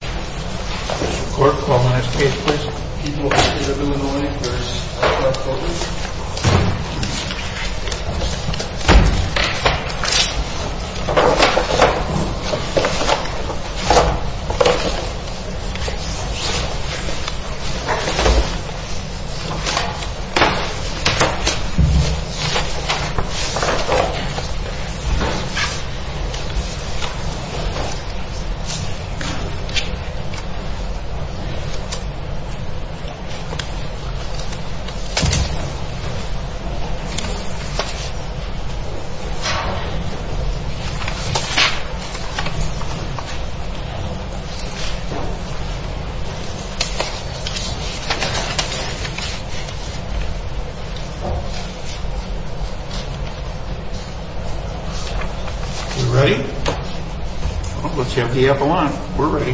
This is the court. Call the next case please. People of the state of Illinois v. Alcoa County You ready? Let's have the appellant. We're ready.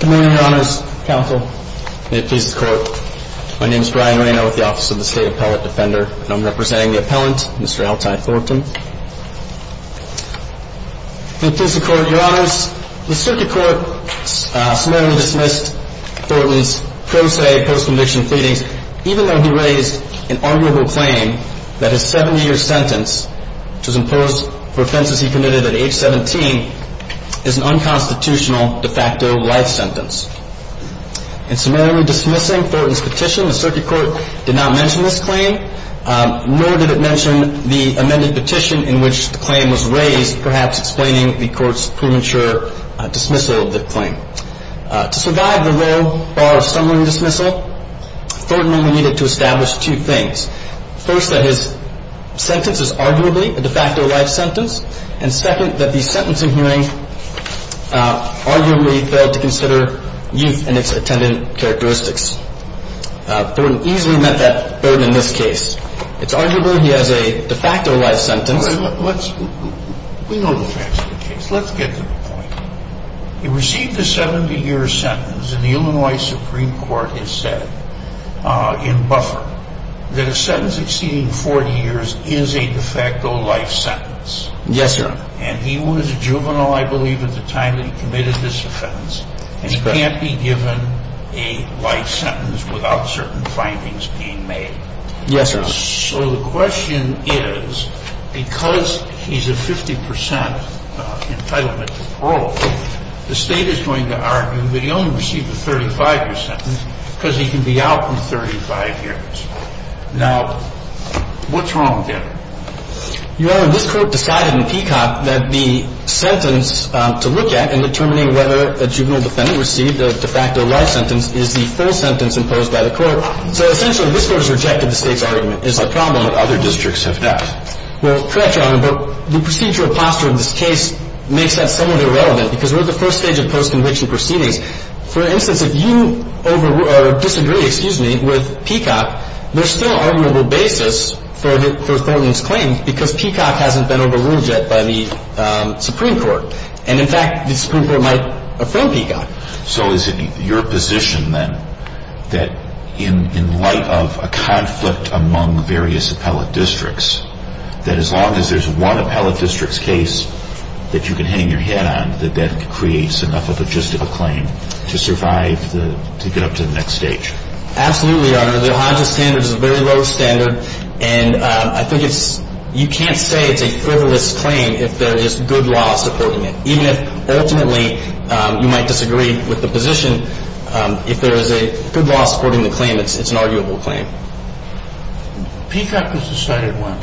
Good morning, your honors. Counsel, may it please the court. My name is Brian Reno with the Office of the State Appellant Defender, and I'm representing the appellant, Mr. Altai Thornton. May it please the court, your honors. The circuit court smoothly dismissed Thornton's pro se post-conviction pleadings, even though he raised an arguable claim that his 70-year sentence, which was imposed for offenses he committed at age 17, is an unconstitutional de facto life sentence. In summarily dismissing Thornton's petition, the circuit court did not mention this claim, nor did it mention the amended petition in which the claim was raised, perhaps explaining the court's premature dismissal of the claim. To survive the low bar of summarily dismissal, Thornton only needed to establish two things. First, that his sentence is arguably a de facto life sentence, and second, that the sentencing hearing arguably failed to consider youth and its attendant characteristics. Thornton easily met that burden in this case. It's arguable he has a de facto life sentence. We know the facts of the case. Let's get to the point. He received a 70-year sentence, and the Illinois Supreme Court has said, in buffer, that a sentence exceeding 40 years is a de facto life sentence. Yes, sir. And he was a juvenile, I believe, at the time that he committed this offense, and he can't be given a life sentence without certain findings being made. Yes, sir. So the question is, because he's a 50 percent entitlement to parole, the State is going to argue that he only received a 35-year sentence because he can be out in 35 years. Now, what's wrong there? Your Honor, this Court decided in Peacock that the sentence to look at in determining whether a juvenile defendant received a de facto life sentence is the full sentence imposed by the Court. So essentially, this Court has rejected the State's argument. It's a problem. But other districts have not. Well, correct, Your Honor, but the procedural posture of this case makes that somewhat irrelevant because we're at the first stage of post-conviction proceedings. For instance, if you disagree with Peacock, there's still arguable basis for Thornton's claim because Peacock hasn't been overruled yet by the Supreme Court. And, in fact, the Supreme Court might affirm Peacock. So is it your position, then, that in light of a conflict among various appellate districts, that as long as there's one appellate district's case that you can hang your hat on, that that creates enough of a justifiable claim to survive to get up to the next stage? Absolutely, Your Honor. The O'Hara standard is a very low standard. And I think it's – you can't say it's a frivolous claim if there is good law supporting it. Even if, ultimately, you might disagree with the position, if there is a good law supporting the claim, it's an arguable claim. Peacock was decided when?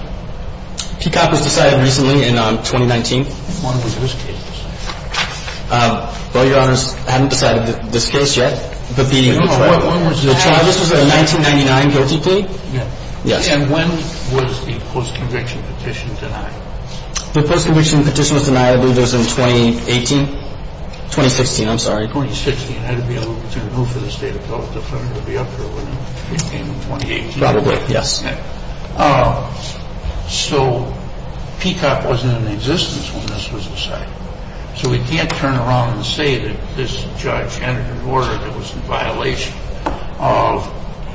Peacock was decided recently in 2019. When was this case decided? Well, Your Honors, I haven't decided this case yet. But the – No, no. When was that? The Travis was a 1999 guilty plea? Yes. And when was the post-conviction petition denied? The post-conviction petition was denied, I believe it was in 2018? 2016, I'm sorry. 2016. I'd have to be able to move for the State Appellate Defender to be up here, wouldn't I? In 2018. Probably, yes. Okay. So Peacock wasn't in existence when this was decided. So we can't turn around and say that this judge entered an order that was in violation of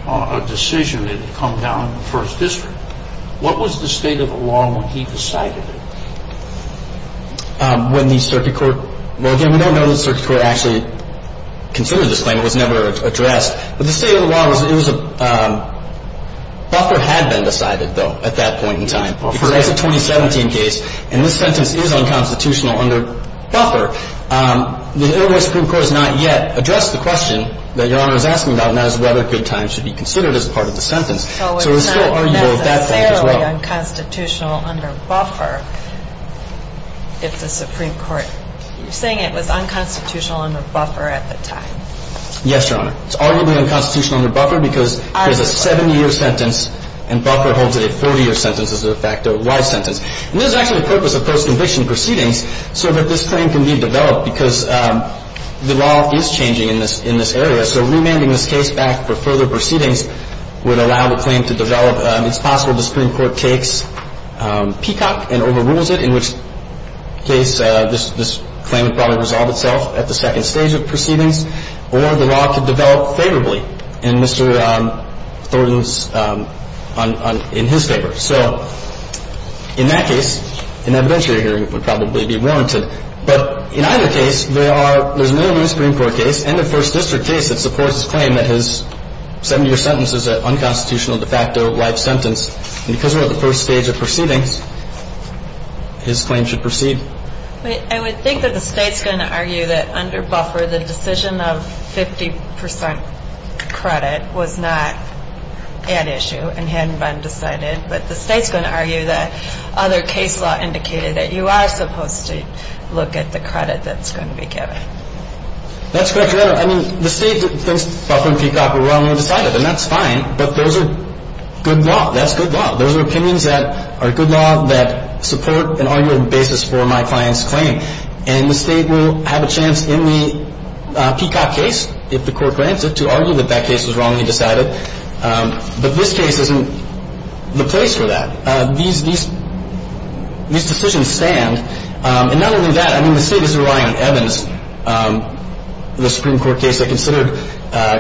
a decision that had come down in the First District. What was the state of the law when he decided it? When the Circuit Court – well, again, we don't know that the Circuit Court actually considered this claim. It was never addressed. But the state of the law was – it was a – Buffer had been decided, though, at that point in time. Because that's a 2017 case, and this sentence is unconstitutional under Buffer. The Illinois Supreme Court has not yet addressed the question that Your Honor is asking about, and that is whether a good time should be considered as part of the sentence. So it's still arguable at that point as well. So it's not necessarily unconstitutional under Buffer if the Supreme Court – you're saying it was unconstitutional under Buffer at the time. Yes, Your Honor. It's arguably unconstitutional under Buffer because there's a 70-year sentence, and Buffer holds it a 40-year sentence as a fact of life sentence. And there's actually a purpose of post-conviction proceedings so that this claim can be developed because the law is changing in this area. So remanding this case back for further proceedings would allow the claim to develop. It's possible the Supreme Court takes Peacock and overrules it, in which case this claim would probably resolve itself at the second stage of proceedings, or the law could develop favorably in Mr. Thornton's – in his favor. So in that case, an adventure hearing would probably be warranted. But in either case, there are – there's no new Supreme Court case and a First District case that supports his claim that his 70-year sentence is an unconstitutional de facto life sentence. And because we're at the first stage of proceedings, his claim should proceed. I would think that the State's going to argue that under Buffer, the decision of 50 percent credit was not an issue and hadn't been decided. But the State's going to argue that other case law indicated that you are supposed to look at the credit that's going to be given. That's correct, Your Honor. I mean, the State thinks Buffer and Peacock were wrongly decided, and that's fine. But those are good law. That's good law. Those are opinions that are good law that support an argument basis for my client's claim. And the State will have a chance in the Peacock case, if the Court grants it, to argue that that case was wrongly decided. But this case isn't the place for that. These decisions stand. And not only that, I mean, the State is relying on Evans, the Supreme Court case they considered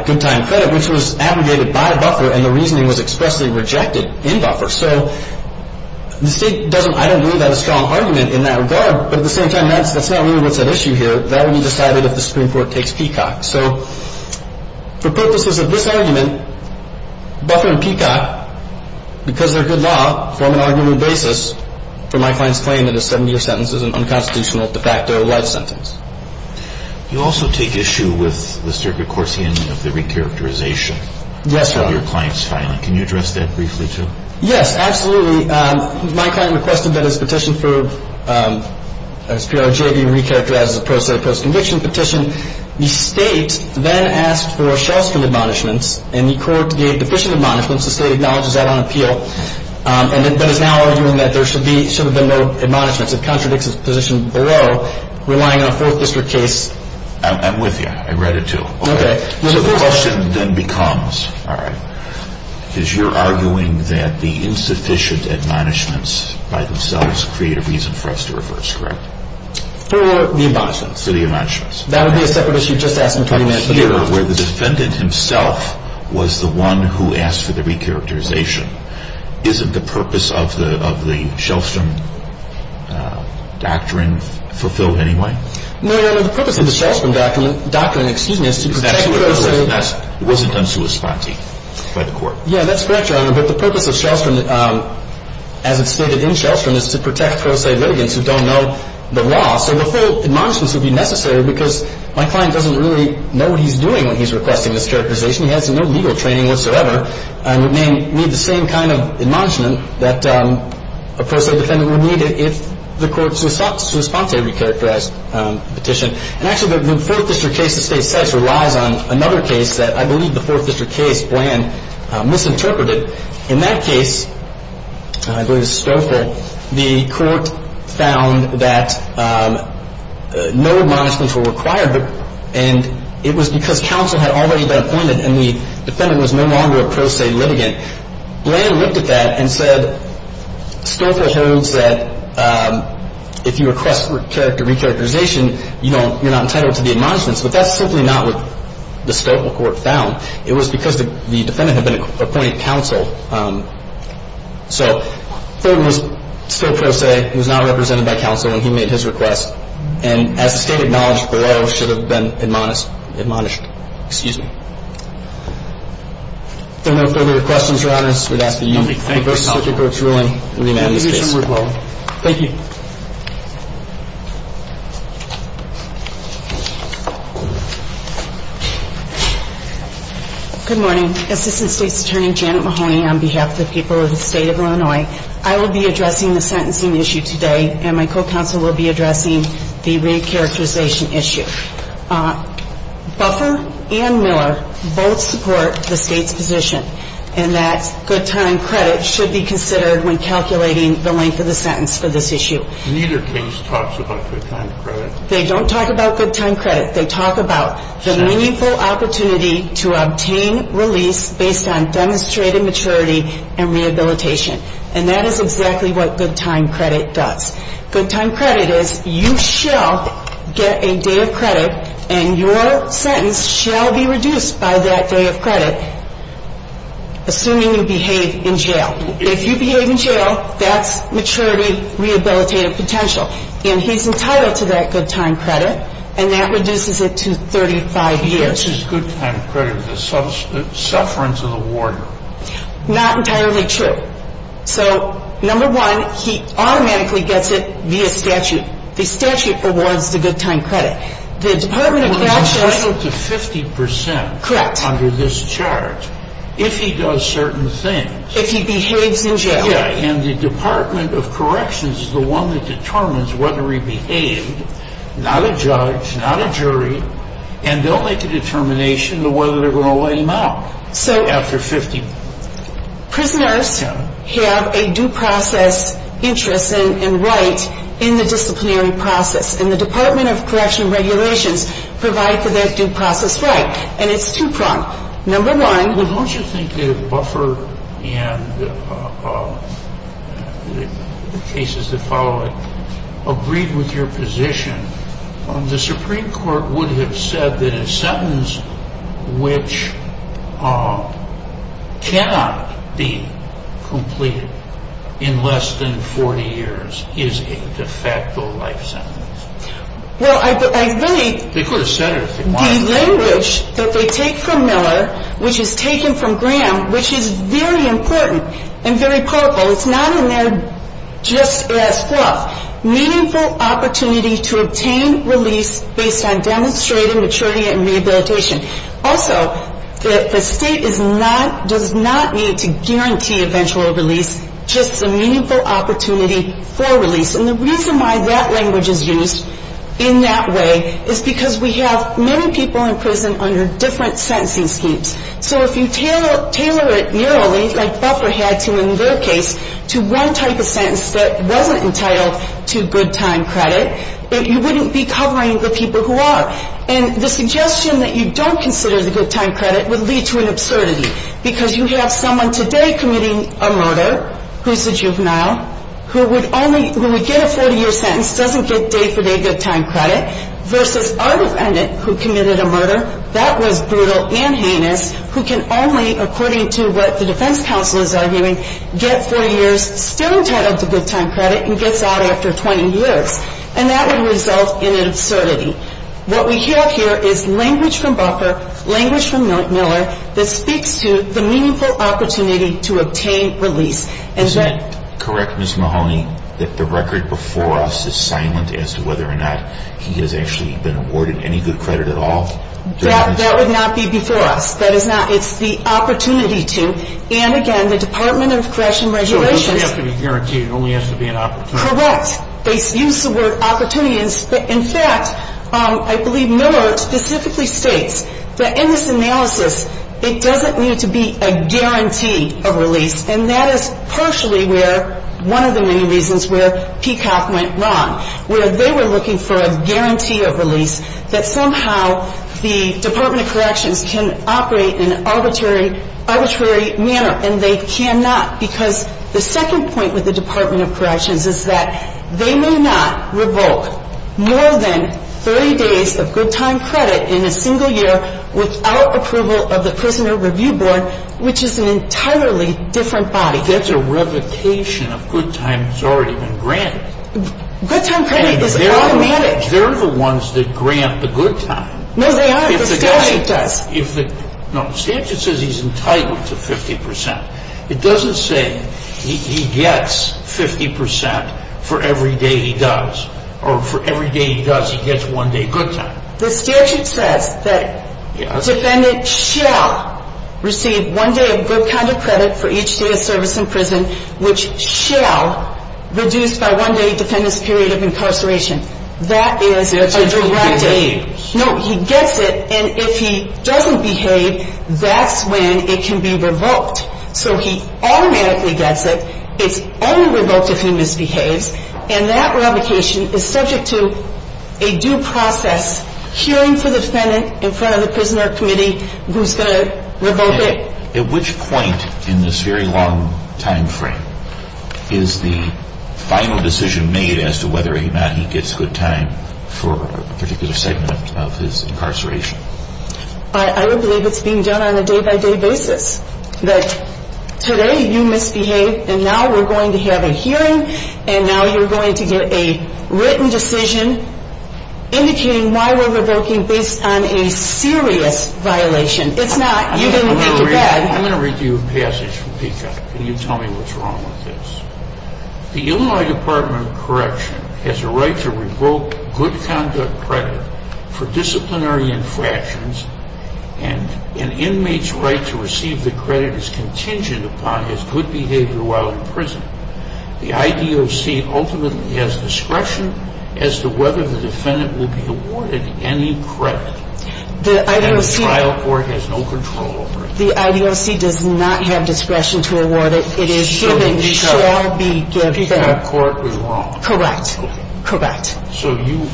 good time credit, which was abrogated by Buffer and the reasoning was expressly rejected in Buffer. So the State doesn't, I don't believe, have a strong argument in that regard. But at the same time, that's not really what's at issue here. That will be decided if the Supreme Court takes Peacock. So for purposes of this argument, Buffer and Peacock, because they're good law, form an argument basis for my client's claim that a 70-year sentence is an unconstitutional de facto life sentence. You also take issue with the circuit court's handling of the recharacterization. Yes, Your Honor. Of your client's filing. Can you address that briefly, too? Yes, absolutely. My client requested that his petition for his PRJ be recharacterized as a pro se post conviction petition. The State then asked for a Shellstrom admonishments and the Court gave deficient admonishments. The State acknowledges that on appeal but is now arguing that there should have been no admonishments. It contradicts its position below, relying on a Fourth District case. I'm with you. I read it, too. Okay. So the question then becomes, all right, is you're arguing that the insufficient admonishments by themselves create a reason for us to reverse, correct? For the admonishments. For the admonishments. That would be a separate issue. I'm here where the defendant himself was the one who asked for the recharacterization. Isn't the purpose of the Shellstrom doctrine fulfilled anyway? No, Your Honor. The purpose of the Shellstrom doctrine, excuse me, is to protect pro se. That's what it was. It wasn't unsuisponting by the Court. Yeah, that's correct, Your Honor. But the purpose of Shellstrom, as it's stated in Shellstrom, is to protect pro se litigants who don't know the law. So the full admonishments would be necessary because my client doesn't really know what he's doing when he's requesting this characterization. He has no legal training whatsoever and would need the same kind of admonishment that a pro se defendant would need if the Court suisponte recharacterized the petition. And actually, the Fourth District case itself relies on another case that I believe the Fourth District case plan misinterpreted. In that case, I believe it was Stoffel, the Court found that no admonishments were required and it was because counsel had already been appointed and the defendant was no longer a pro se litigant. Bland looked at that and said Stoffel holds that if you request recharacterization, you're not entitled to the admonishments. But that's simply not what the Stoffel Court found. It was because the defendant had been appointed counsel. So Ford was still pro se. He was not represented by counsel when he made his request. And as the State acknowledged below, should have been admonished. Excuse me. If there are no further questions, Your Honors, I would ask that you reverse the Circuit Court's ruling and remand this case. Thank you. Good morning. Assistant State's Attorney Janet Mahoney on behalf of the people of the State of Illinois. I will be addressing the sentencing issue today and my co-counsel will be addressing the recharacterization issue. Buffer and Miller both support the State's position in that good time credit should be considered when calculating the length of the sentence for this issue. Neither case talks about good time credit. They don't talk about good time credit. They talk about the meaningful opportunity to obtain release based on demonstrated maturity and rehabilitation. And that is exactly what good time credit does. Good time credit is you shall get a day of credit and your sentence shall be reduced by that day of credit, assuming you behave in jail. If you behave in jail, that's maturity rehabilitative potential. And he's entitled to that good time credit, and that reduces it to 35 years. He gets his good time credit with the sufferance of the warden. Not entirely true. So, number one, he automatically gets it via statute. The statute awards the good time credit. The Department of Corrections — He's entitled to 50 percent. Correct. Under this charge if he does certain things. If he behaves in jail. Yeah, and the Department of Corrections is the one that determines whether he behaved. Not a judge, not a jury. And they'll make a determination on whether they're going to let him out after 50. Prisoners have a due process interest and right in the disciplinary process. And the Department of Corrections regulations provide for their due process right. And it's two-pronged. Number nine. Don't you think the buffer and the cases that follow it agree with your position? The Supreme Court would have said that a sentence which cannot be completed in less than 40 years is a de facto life sentence. Well, I think — The language that they take from Miller, which is taken from Graham, which is very important and very powerful. It's not in there just as fluff. Meaningful opportunity to obtain release based on demonstrated maturity and rehabilitation. Also, the state does not need to guarantee eventual release, just a meaningful opportunity for release. And the reason why that language is used in that way is because we have many people in prison under different sentencing schemes. So if you tailor it murally, like Buffer had to in their case, to one type of sentence that wasn't entitled to good time credit, you wouldn't be covering the people who are. And the suggestion that you don't consider the good time credit would lead to an absurdity. Because you have someone today committing a murder, who's a juvenile, who would only — who would get a 40-year sentence, doesn't get day-for-day good time credit, versus our defendant who committed a murder, that was brutal and heinous, who can only, according to what the defense counsel is arguing, get 40 years, still entitled to good time credit, and gets out after 20 years. And that would result in an absurdity. What we have here is language from Buffer, language from Miller, that speaks to the meaningful opportunity to obtain release. And that — Isn't it correct, Ms. Mahoney, that the record before us is silent as to whether or not he has actually been awarded any good credit at all? That would not be before us. That is not — it's the opportunity to. And again, the Department of Corrections and Regulations — So it doesn't have to be guaranteed. It only has to be an opportunity. Correct. They use the word opportunity. In fact, I believe Miller specifically states that in this analysis, it doesn't need to be a guarantee of release. And that is partially where — one of the many reasons where Peacock went wrong, where they were looking for a guarantee of release, that somehow the Department of Corrections can operate in an arbitrary — arbitrary manner, and they cannot. Because the second point with the Department of Corrections is that they may not revoke more than 30 days of good time credit in a single year without approval of the Prisoner Review Board, which is an entirely different body. That's a revocation of good time that's already been granted. Good time credit is automatic. They're the ones that grant the good time. No, they aren't. The statute does. No, the statute says he's entitled to 50%. It doesn't say he gets 50% for every day he does. Or for every day he does, he gets one day good time. The statute says that a defendant shall receive one day of good time credit for each day of service in prison, which shall reduce by one day the defendant's period of incarceration. That is a direct aim. No, he gets it. And if he doesn't behave, that's when it can be revoked. So he automatically gets it. It's only revoked if he misbehaves. And that revocation is subject to a due process hearing for the defendant in front of the Prisoner Committee who's going to revoke it. At which point in this very long time frame is the final decision made as to whether or not he gets good time for a particular segment of his incarceration? I would believe it's being done on a day-by-day basis. That today you misbehaved, and now we're going to have a hearing, and now you're going to get a written decision indicating why we're revoking based on a serious violation. It's not. You didn't get to that. I'm going to read to you a passage from PICA. Can you tell me what's wrong with this? The Illinois Department of Correction has a right to revoke good conduct credit for disciplinary infractions, and an inmate's right to receive the credit is contingent upon his good behavior while in prison. The IDOC ultimately has discretion as to whether the defendant will be awarded any credit. And the trial court has no control over it. The IDOC does not have discretion to award it. It is given, shall be given. So the PICA court was wrong. Correct. Okay. Correct. So you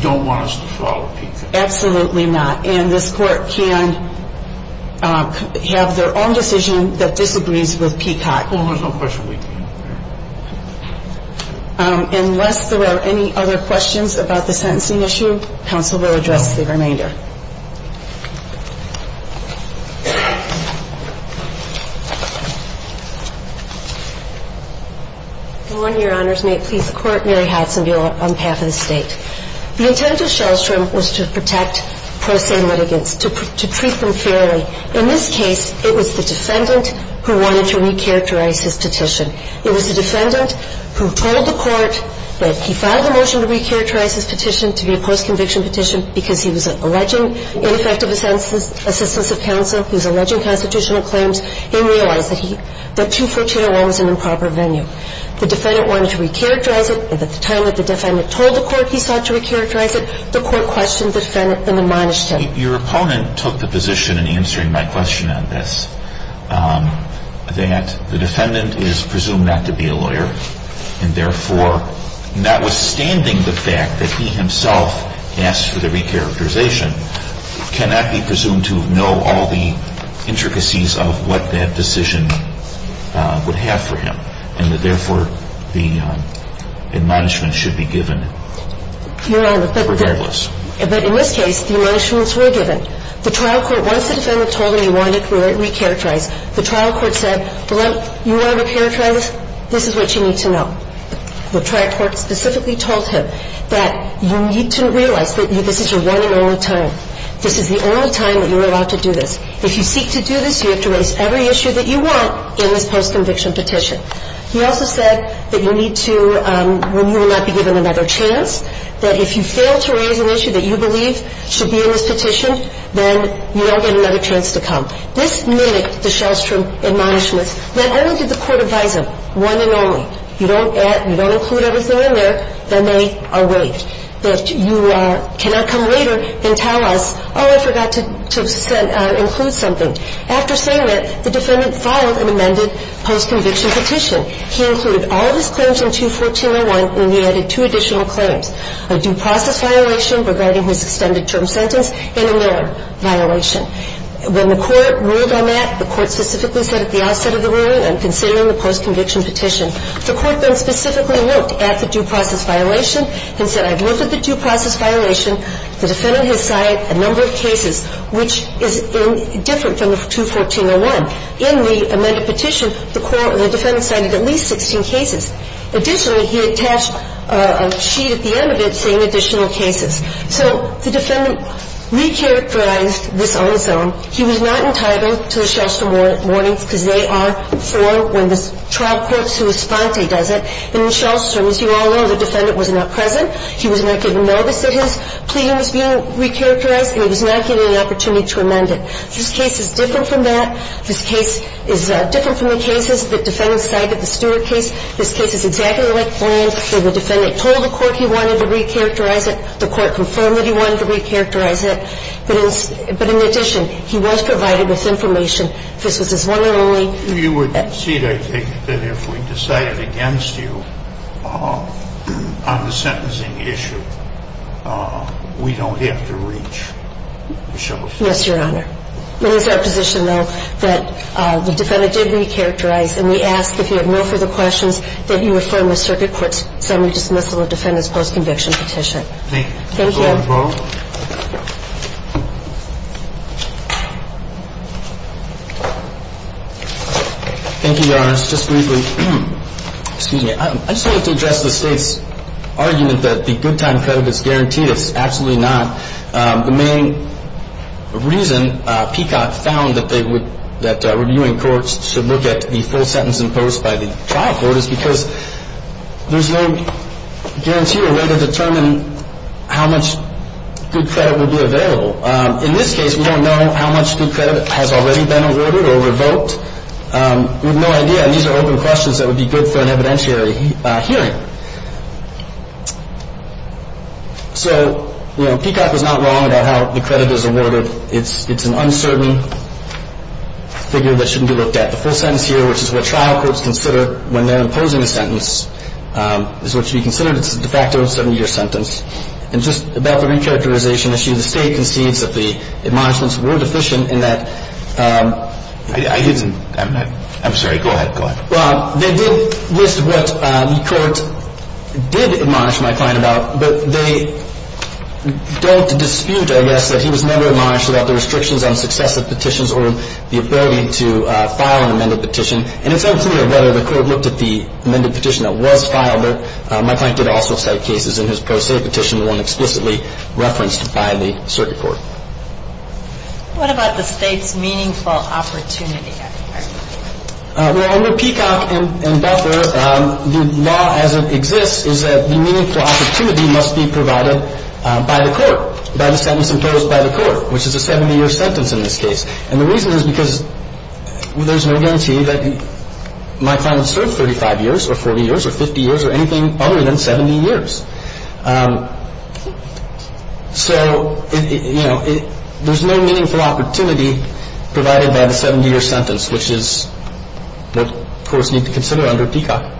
don't want us to follow PICA? Absolutely not. And this court can have their own decision that disagrees with PICA. Well, there's no question we do. Unless there are any other questions about the sentencing issue, counsel will address the remainder. Go on, Your Honors. May it please the Court. Mary Hudson on behalf of the State. The intent of Shellstrom was to protect pro se litigants, to treat them fairly. In this case, it was the defendant who wanted to recharacterize his petition. It was the defendant who told the court that he filed a motion to recharacterize his petition to be a post-conviction petition because he was alleging ineffective assistance of counsel. He was alleging constitutional claims. He realized that 21401 was an improper venue. The defendant wanted to recharacterize it, and at the time that the defendant told the court he sought to recharacterize it, the court questioned the defendant and admonished him. Your opponent took the position in answering my question on this that the defendant is presumed not to be a lawyer, and therefore, notwithstanding the fact that he himself asked for the recharacterization, cannot be presumed to know all the intricacies of what that decision would have for him, and that therefore the admonishment should be given regardless. But in this case, the admonishments were given. The trial court, once the defendant told him he wanted to recharacterize, the trial court said, well, you want to recharacterize this? This is what you need to know. The trial court specifically told him that you need to realize that this is your one and only time. This is the only time that you're allowed to do this. If you seek to do this, you have to raise every issue that you want in this post-conviction petition. He also said that you need to, when you will not be given another chance, that if you fail to raise an issue that you believe should be in this petition, then you don't get another chance to come. This mimicked the Shellstrom admonishments. Not only did the court advise him, one and only, you don't add, you don't include everything in there, then they are rigged, that you cannot come later and tell us, oh, I forgot to include something. After saying that, the defendant filed an amended post-conviction petition. He included all of his claims in 214-01, and he added two additional claims, a due process violation regarding his extended term sentence and a warrant violation. When the court ruled on that, the court specifically said at the outset of the ruling, I'm considering the post-conviction petition. The court then specifically looked at the due process violation and said, I've looked at the due process violation. The defendant has signed a number of cases which is different from the 214-01. In the amended petition, the court or the defendant signed at least 16 cases. Additionally, he attached a sheet at the end of it saying additional cases. So the defendant recharacterized this on his own. He was not entitled to the Shellstrom warrants because they are for when the trial court sui sponte does it. And in Shellstrom, as you all know, the defendant was not present. He was not given notice that his plea was being recharacterized, and he was not given the opportunity to amend it. This case is different from that. This case is different from the cases the defendant signed at the Stewart case. This case is exactly like Glenn. The defendant told the court he wanted to recharacterize it. The court confirmed that he wanted to recharacterize it. But in addition, he was provided with information. This was his one and only. You would concede, I take it, that if we decided against you on the sentencing issue, we don't have to reach Shellstrom? Yes, Your Honor. It is our position, though, that the defendant did recharacterize. And we ask, if you have no further questions, that you affirm the circuit court's summary dismissal of the defendant's post-conviction petition. Thank you. Thank you. Thank you, Your Honors. Just briefly, excuse me. I just wanted to address the State's argument that the good time credit is guaranteed. It's absolutely not. The main reason PCOT found that reviewing courts should look at the full sentence imposed by the trial court is because there's no guarantee or way to determine how much good credit would be available. In this case, we don't know how much good credit has already been awarded or revoked. We have no idea. And these are open questions that would be good for an evidentiary hearing. So, you know, PCOT was not wrong about how the credit is awarded. It's an uncertain figure that shouldn't be looked at. The full sentence here, which is what trial courts consider when they're imposing a sentence, is what should be considered as a de facto 70-year sentence. And just about the recharacterization issue, the State concedes that the admonishments were deficient in that. I'm sorry. Go ahead. Go ahead. Well, they did list what the court did admonish my client about, but they don't dispute, I guess, that he was never admonished about the restrictions on successive petitions or the ability to file an amended petition. And it's unclear whether the court looked at the amended petition that was filed, but my client did also cite cases in his pro se petition, one explicitly referenced by the circuit court. What about the State's meaningful opportunity argument? Well, under PCOT and Buffer, the law as it exists is that the meaningful opportunity must be provided by the court, by the sentence imposed by the court, which is a 70-year sentence in this case. And the reason is because there's no guarantee that my client served 35 years or 40 years or 50 years or anything other than 70 years. So, you know, there's no meaningful opportunity provided by the 70-year sentence, which is what courts need to consider under PCOT.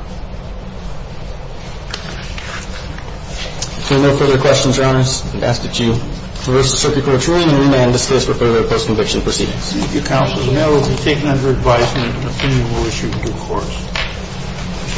If there are no further questions, Your Honors, I ask that you reverse the circuit court's ruling and disclose for further post-conviction proceedings. Thank you, Counsel. The matter will be taken under advisement and an opinion will be issued to the courts.